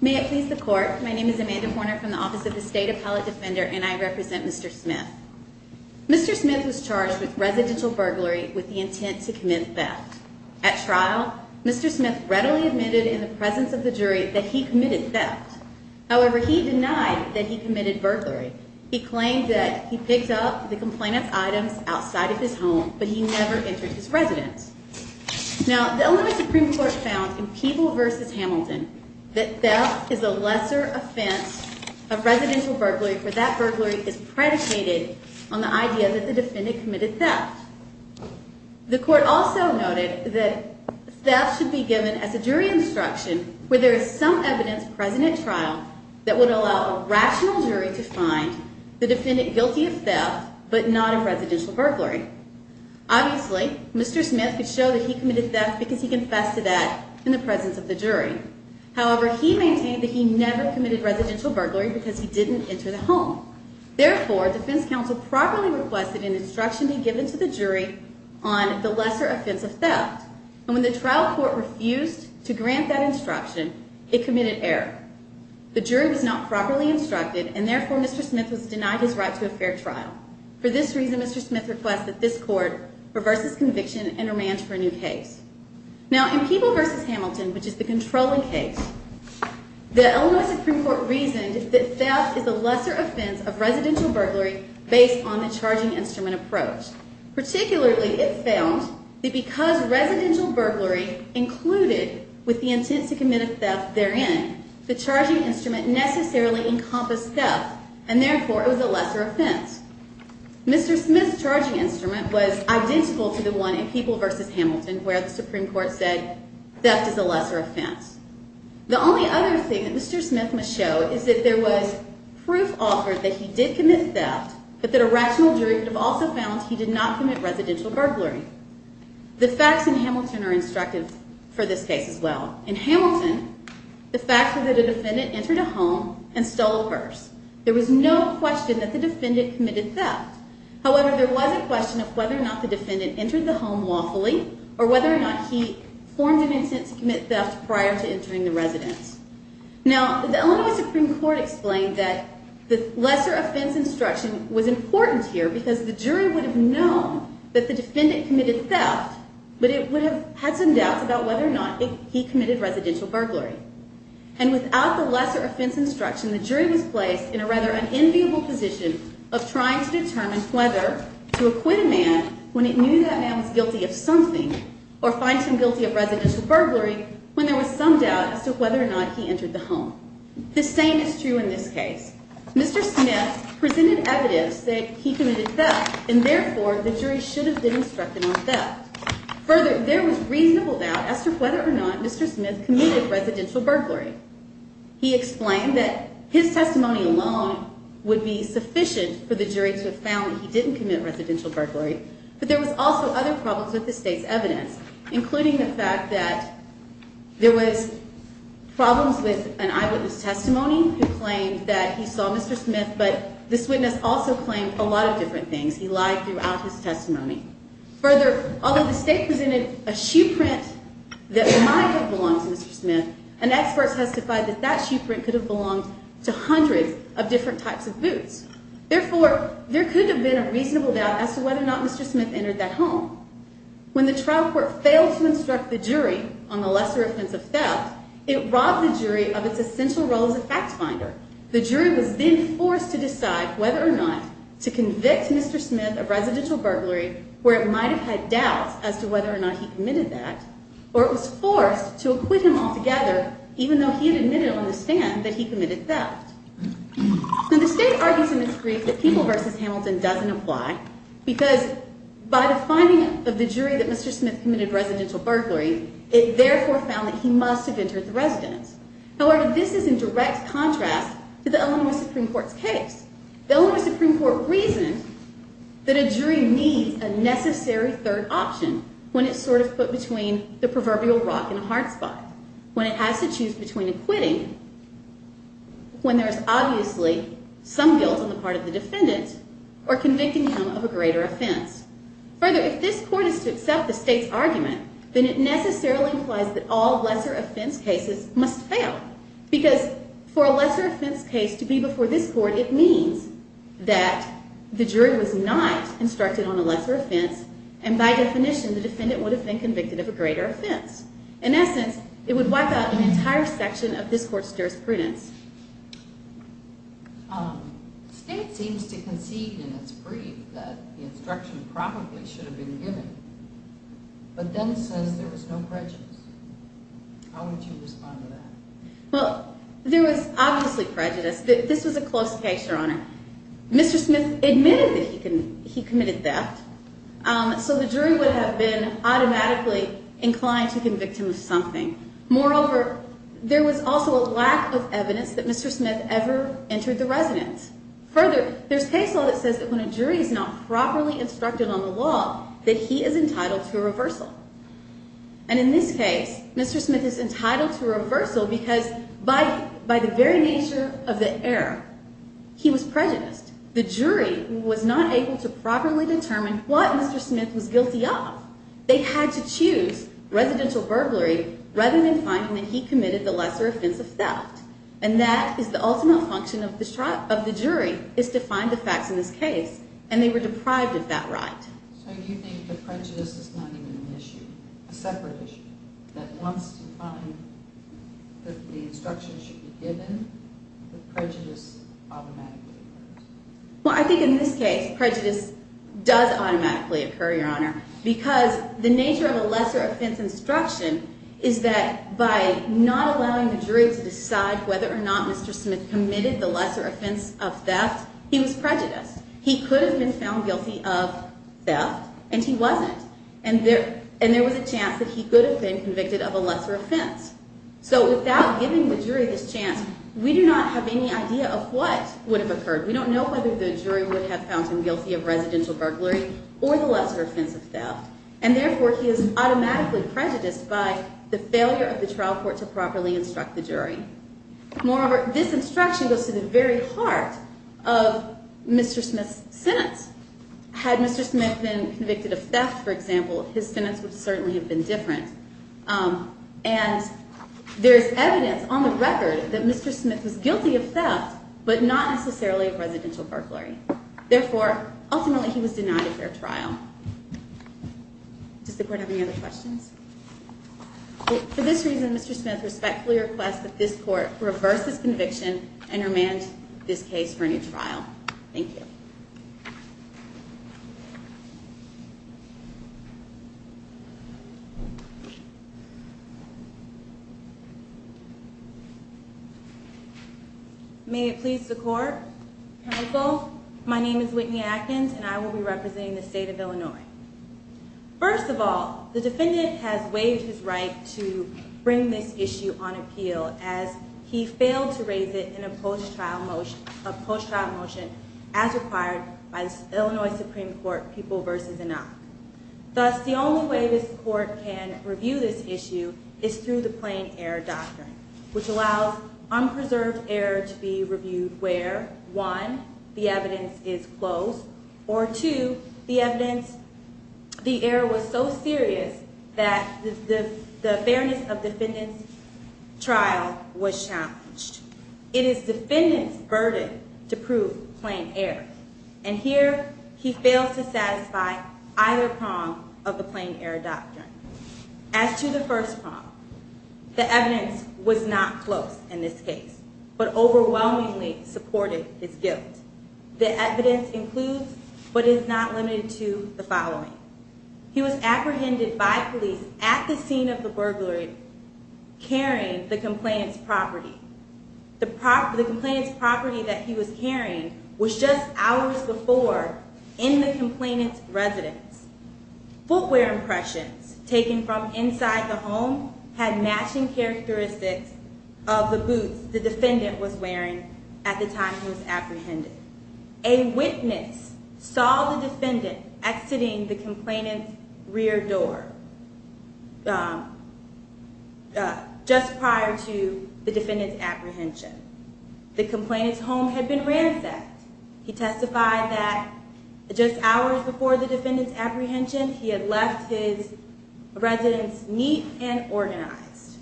May it please the court. My name is Amanda Horner from the Office of the State Appellate Defender, and I represent Mr. Smith. Mr. Smith was charged with residential burglary with the intent to commit theft. At trial, Mr. Smith readily admitted in the presence of the jury that he committed theft. However, he denied that he committed burglary. He claimed that he picked up the complainant's items outside of his home, but he never entered his residence. Now, the Illinois Supreme Court found in Peeble v. Hamilton that theft is a lesser offense of residential burglary, for that burglary is predicated on the idea that the defendant committed theft. The court also noted that theft should be given as a jury instruction where there is some evidence present at trial that would allow a rational jury to find the defendant guilty of theft, but not of residential burglary. Obviously, Mr. Smith could show that he committed theft because he confessed to that in the presence of the jury. However, he maintained that he never committed residential burglary because he didn't enter the home. Therefore, defense counsel properly requested an instruction be given to the jury on the lesser offense of theft, and when the trial court refused to grant that instruction, it committed error. The jury was not properly instructed, and therefore, Mr. Smith was denied his right to a fair trial. For this reason, Mr. Smith requests that this court reverse his conviction and remand to a new case. Now, in Peeble v. Hamilton, which is the controlling case, the Illinois Supreme Court reasoned that theft is a lesser offense of residential burglary based on the charging instrument approach. Particularly, it found that because residential burglary included with the intent to commit a theft therein, the charging instrument necessarily encompassed theft, and therefore, it was a lesser offense. Mr. Smith's charging instrument was identical to the one in Peeble v. Hamilton where the Supreme Court said theft is a lesser offense. The only other thing that Mr. Smith must show is that there was proof offered that he did commit theft, but that a rational jury would have also found he did not commit residential burglary. The facts in Hamilton are instructive for this case as well. In Hamilton, the facts were that a defendant entered a home and stole a purse. There was no question that the defendant committed theft. However, there was a question of whether or not the defendant entered the home lawfully or whether or not he formed an intent to commit theft prior to entering the residence. Now, the Illinois Supreme Court explained that the lesser offense instruction was important here because the jury would have known that the defendant committed theft, but it would have had some doubts about whether or not he committed residential burglary. And without the lesser offense instruction, the jury was placed in a rather unenviable position of trying to determine whether to acquit a man when it knew that man was guilty of something or find him guilty of residential burglary when there was some doubt as to whether or not he entered the home. The same is true in this case. Mr. Smith presented evidence that he committed theft, and therefore, the jury should have been instructed on theft. Further, there was reasonable doubt as to whether or not Mr. Smith committed residential burglary. He explained that his testimony alone would be sufficient for the jury to have found that he didn't commit residential burglary. But there was also other problems with the state's evidence, including the fact that there was problems with an eyewitness testimony who claimed that he saw Mr. Smith, but this witness also claimed a lot of different things. He lied throughout his testimony. Further, although the state presented a shoe print that might have belonged to Mr. Smith, an expert testified that that shoe print could have belonged to hundreds of different types of boots. Therefore, there could have been a reasonable doubt as to whether or not Mr. Smith entered that home. When the trial court failed to instruct the jury on the lesser offense of theft, it robbed the jury of its essential role as a fact finder. The jury was then forced to decide whether or not to convict Mr. Smith of residential burglary, where it might have had doubts as to whether or not he committed that, or it was forced to acquit him altogether, even though he had admitted on the stand that he committed theft. Now, the state argues in this brief that People v. Hamilton doesn't apply, because by the finding of the jury that Mr. Smith committed residential burglary, it therefore found that he must have entered the residence. However, this is in direct contrast to the Illinois Supreme Court's case. The Illinois Supreme Court reasoned that a jury needs a necessary third option when it's sort of put between the proverbial rock and a hard spot, when it has to choose between acquitting, when there is obviously some guilt on the part of the defendant, or convicting him of a greater offense. Further, if this court is to accept the state's argument, then it necessarily implies that all lesser offense cases must fail, because for a lesser offense case to be before this court, it means that the jury was not instructed on a lesser offense, and by definition, the defendant would have been convicted of a greater offense. In essence, it would wipe out an entire section of this court's jurisprudence. The state seems to concede in its brief that the instruction probably should have been given, but then says there was no prejudice. How would you respond to that? Well, there was obviously prejudice. This was a close case, Your Honor. Mr. Smith admitted that he committed theft, so the jury would have been automatically inclined to convict him of something. Moreover, there was also a lack of evidence that Mr. Smith ever entered the residence. Further, there's case law that says that when a jury is not properly instructed on the law, that he is entitled to a reversal. In this case, Mr. Smith is entitled to a reversal because by the very nature of the error, he was prejudiced. The jury was not able to properly determine what Mr. Smith was guilty of. They had to choose residential burglary rather than finding that he committed the lesser offense of theft, and that is the ultimate function of the jury, is to find the facts in this case, and they were deprived of that right. So you think that prejudice is not even an issue, a separate issue, that once you find that the instruction should be given, that prejudice automatically occurs? Well, I think in this case, prejudice does automatically occur, Your Honor, because the nature of a lesser offense instruction is that by not allowing the jury to decide whether or not Mr. Smith committed the lesser offense of theft, he was prejudiced. He could have been found guilty of theft, and he wasn't, and there was a chance that he could have been convicted of a lesser offense. So without giving the jury this chance, we do not have any idea of what would have occurred. We don't know whether the jury would have found him guilty of residential burglary or the lesser offense of theft, and therefore, he is automatically prejudiced by the failure of the trial court to properly instruct the jury. Moreover, this instruction goes to the very heart of Mr. Smith's sentence. Had Mr. Smith been convicted of theft, for example, his sentence would certainly have been different, and there's evidence on the record that Mr. Smith was guilty of theft, but not necessarily of residential burglary. Therefore, ultimately, he was denied a fair trial. Does the Court have any other questions? For this reason, Mr. Smith respectfully requests that this Court reverse this conviction and remand this case for a new trial. Thank you. May it please the Court. Counsel, my name is Whitney Atkins, and I will be representing the State of Illinois. First of all, the defendant has waived his right to bring this issue on appeal, as he failed to raise it in a post-trial motion as required by the Illinois Supreme Court People v. Enoch. Thus, the only way this Court can review this issue is through the plain error doctrine, which allows unpreserved error to be reviewed where, one, the evidence is close, or two, the evidence, the error was so serious that the fairness of the defendant's trial was challenged. It is the defendant's burden to prove plain error, and here he fails to satisfy either prong of the plain error doctrine. As to the first prong, the evidence was not close in this case, but overwhelmingly supported his guilt. The evidence includes, but is not limited to, the following. He was apprehended by police at the scene of the burglary, carrying the complainant's property. The complainant's property that he was carrying was just hours before in the complainant's residence. Footwear impressions taken from inside the home had matching characteristics of the boots the defendant was wearing at the time he was apprehended. A witness saw the defendant exiting the complainant's rear door just prior to the defendant's apprehension. The complainant's home had been ransacked. He testified that just hours before the defendant's apprehension, he had left his residence neat and organized.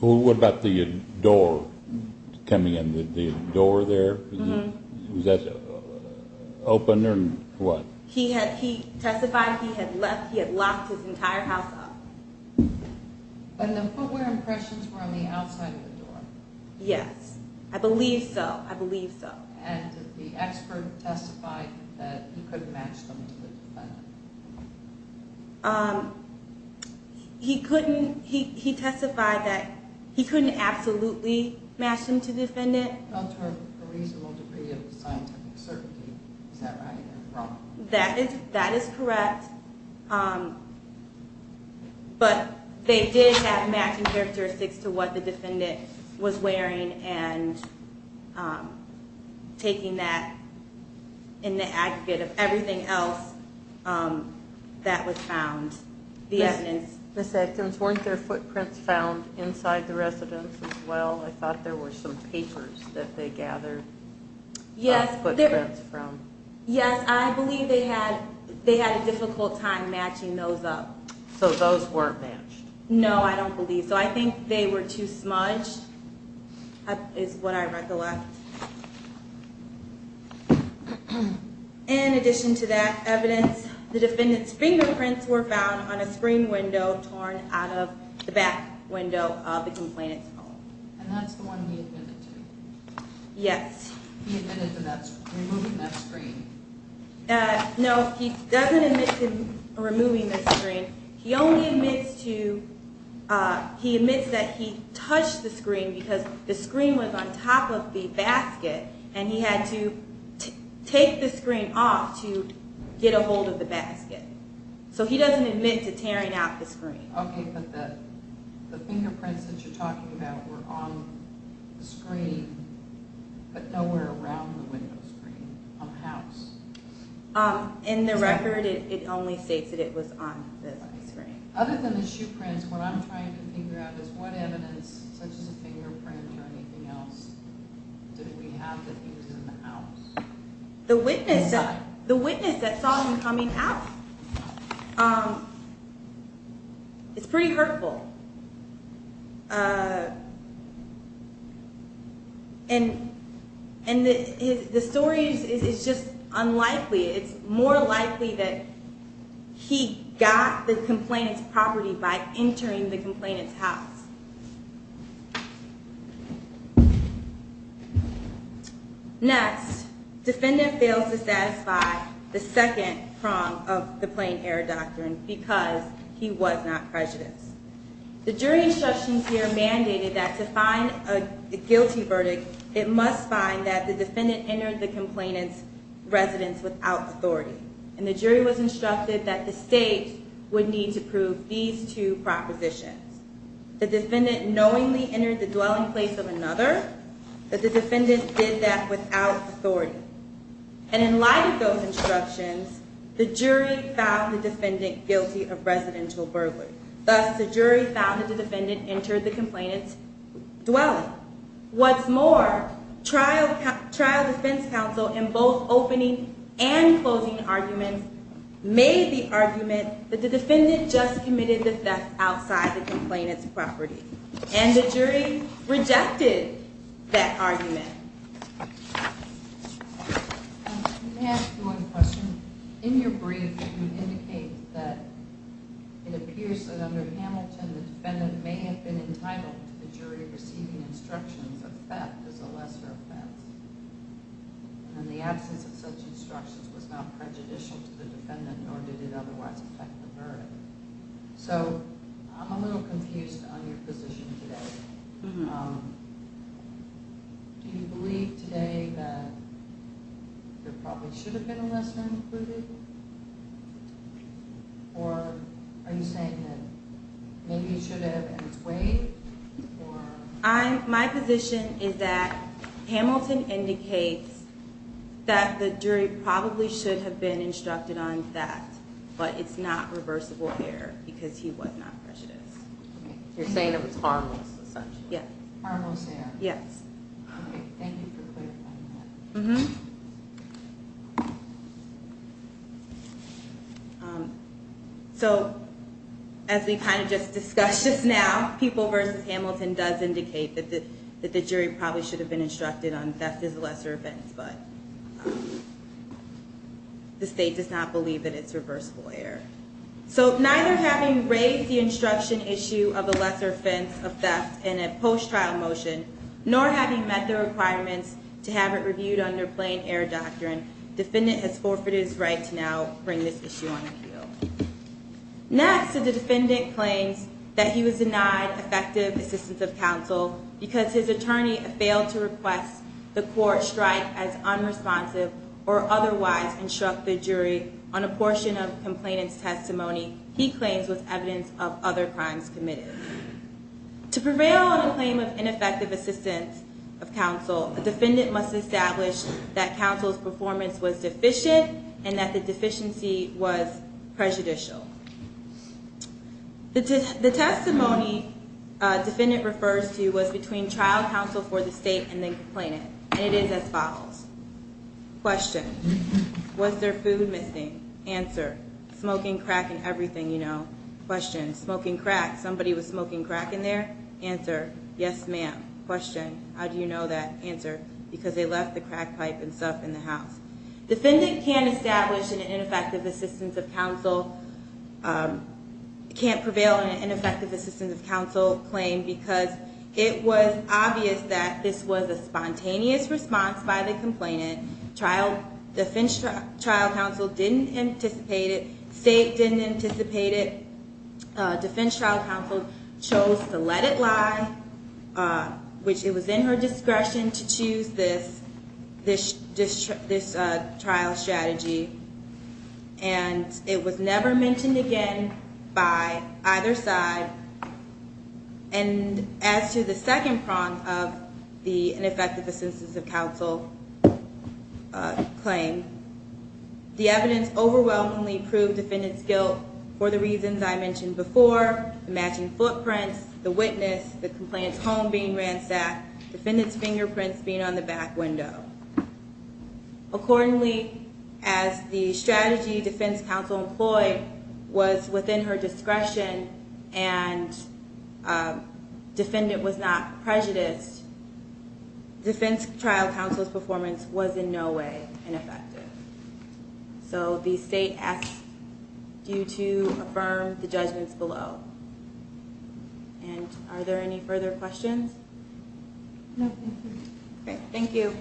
Well, what about the door coming in, the door there, was that open or what? He testified he had locked his entire house up. And the footwear impressions were on the outside of the door? Yes, I believe so, I believe so. And the expert testified that he couldn't match them to the defendant? He testified that he couldn't absolutely match them to the defendant? Not to a reasonable degree of scientific certainty, is that right or wrong? That is correct. But they did have matching characteristics to what the defendant was wearing and taking that in the aggregate of everything else that was found. Ms. Edkins, weren't there footprints found inside the residence as well? I thought there were some papers that they gathered footprints from. Yes, I believe they had a difficult time matching those up. So those weren't matched? No, I don't believe so. I think they were too smudged, is what I recollect. In addition to that evidence, the defendant's fingerprints were found on a screen window torn out of the back window of the complainant's home. And that's the one he admitted to? Yes. He admitted to removing that screen? No, he doesn't admit to removing the screen. He only admits that he touched the screen because the screen was on top of the basket and he had to take the screen off to get a hold of the basket. So he doesn't admit to tearing out the screen. Okay, but the fingerprints that you're talking about were on the screen, but nowhere around the window screen on the house. In the record, it only states that it was on the screen. Other than the shoe prints, what I'm trying to figure out is what evidence, such as a fingerprint or anything else, did we have that he was in the house? The witness that saw him coming out is pretty hurtful. And the story is just unlikely. It's more likely that he got the complainant's property by entering the complainant's house. Next, defendant fails to satisfy the second prong of the Plain Air Doctrine because he was not prejudiced. The jury instructions here mandated that to find a guilty verdict, it must find that the defendant entered the complainant's residence without authority. And the jury was instructed that the state would need to prove these two propositions. The defendant knowingly entered the dwelling place of another, but the defendant did that without authority. And in light of those instructions, the jury found the defendant guilty of residential burglary. Thus, the jury found that the defendant entered the complainant's dwelling. What's more, trial defense counsel in both opening and closing arguments made the argument that the defendant just committed the theft outside the complainant's property. And the jury rejected that argument. Can I ask you one question? In your brief, you indicate that it appears that under Hamilton, the defendant may have been entitled to the jury receiving instructions that theft is a lesser offense. And the absence of such instructions was not prejudicial to the defendant, nor did it otherwise affect the verdict. So, I'm a little confused on your position today. Do you believe today that there probably should have been a lesser included? Or are you saying that maybe it should have in its way? My position is that Hamilton indicates that the jury probably should have been instructed on theft, but it's not reversible here because he was not prejudiced. You're saying it was harmless, essentially. Harmless error. Yes. Okay, thank you for clarifying that. Mm-hmm. So, as we kind of just discussed just now, People v. Hamilton does indicate that the jury probably should have been instructed on theft as a lesser offense. But the state does not believe that it's reversible error. So, neither having raised the instruction issue of a lesser offense of theft in a post-trial motion, nor having met the requirements to have it reviewed under plain error doctrine, defendant has forfeited his right to now bring this issue on appeal. Next, the defendant claims that he was denied effective assistance of counsel because his attorney failed to request the court strike as unresponsive or otherwise instruct the jury on a portion of complainant's testimony he claims was evidence of other crimes committed. To prevail on a claim of ineffective assistance of counsel, a defendant must establish that counsel's performance was deficient and that the deficiency was prejudicial. The testimony defendant refers to was between trial counsel for the state and the complainant, and it is as follows. Question. Was there food missing? Answer. Smoking, crack, and everything, you know. Question. Smoking, crack. Somebody was smoking crack in there? Answer. Yes, ma'am. Question. How do you know that? Answer. Because they left the crack pipe and stuff in the house. Defendant can't establish an ineffective assistance of counsel, can't prevail on an ineffective assistance of counsel claim, because it was obvious that this was a spontaneous response by the complainant. Defense trial counsel didn't anticipate it. State didn't anticipate it. Defense trial counsel chose to let it lie, which it was in her discretion to choose this trial strategy. And it was never mentioned again by either side. And as to the second prong of the ineffective assistance of counsel claim, the evidence overwhelmingly proved defendant's guilt for the reasons I mentioned before, the matching footprints, the witness, the complainant's home being ransacked, defendant's fingerprints being on the back window. Accordingly, as the strategy defense counsel employed was within her discretion and defendant was not prejudiced, defense trial counsel's performance was in no way ineffective. So the state asks you to affirm the judgments below. And are there any further questions? No, thank you. Okay, thank you.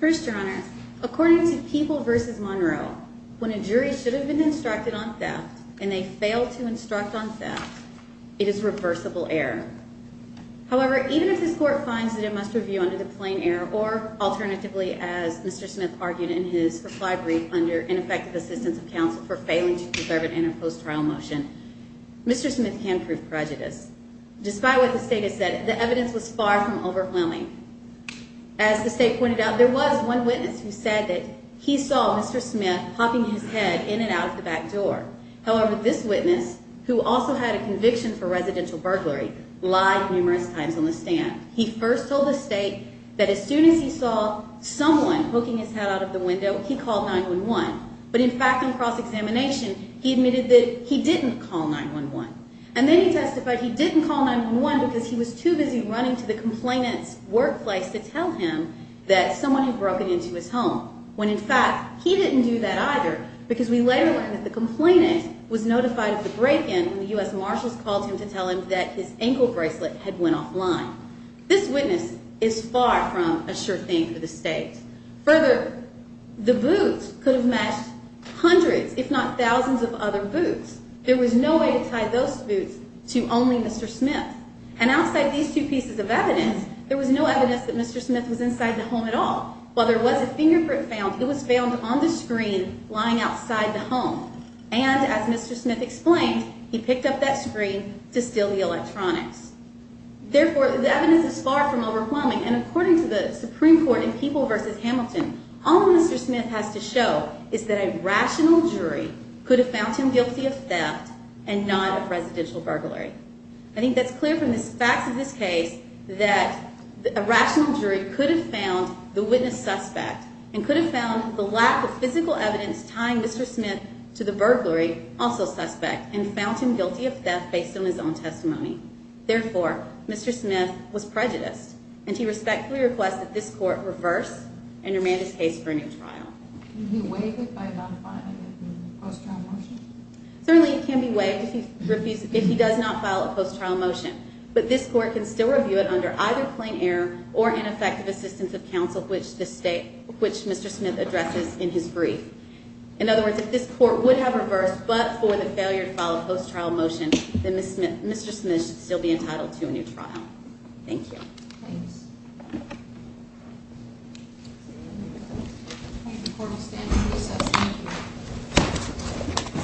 First, Your Honor, according to People v. Monroe, when a jury should have been instructed on theft and they failed to instruct on theft, it is reversible error. However, even if this court finds that it must review under the plain error or alternatively, as Mr. Smith argued in his reply brief under ineffective assistance of counsel for failing to preserve it in a post-trial motion, Mr. Smith can prove prejudice. Despite what the state has said, the evidence was far from overwhelming. As the state pointed out, there was one witness who said that he saw Mr. Smith hopping his head in and out of the back door. However, this witness, who also had a conviction for residential burglary, lied numerous times on the stand. He first told the state that as soon as he saw someone hooking his head out of the window, he called 9-1-1. But in fact, in cross-examination, he admitted that he didn't call 9-1-1. And then he testified he didn't call 9-1-1 because he was too busy running to the complainant's workplace to tell him that someone had broken into his home, when in fact, he didn't do that either, because we later learned that the complainant was notified of the break-in and the U.S. Marshals called him to tell him that his ankle bracelet had went offline. This witness is far from a sure thing for the state. Further, the boots could have matched hundreds, if not thousands, of other boots. There was no way to tie those boots to only Mr. Smith. And outside these two pieces of evidence, there was no evidence that Mr. Smith was inside the home at all. While there was a fingerprint found, it was found on the screen lying outside the home. And as Mr. Smith explained, he picked up that screen to steal the electronics. Therefore, the evidence is far from overwhelming. And according to the Supreme Court in People v. Hamilton, all Mr. Smith has to show is that a rational jury could have found him guilty of theft and not of residential burglary. I think that's clear from the facts of this case that a rational jury could have found the witness suspect and could have found the lack of physical evidence tying Mr. Smith to the burglary also suspect and found him guilty of theft based on his own testimony. Therefore, Mr. Smith was prejudiced. And he respectfully requests that this court reverse and remand his case for a new trial. Can he be waived by not filing a post-trial motion? Certainly he can be waived if he does not file a post-trial motion. But this court can still review it under either plain error or ineffective assistance of counsel, which Mr. Smith addresses in his brief. In other words, if this court would have reversed but for the failure to file a post-trial motion, then Mr. Smith should still be entitled to a new trial. Thank you. Thanks. The court will stand to recess. Thank you.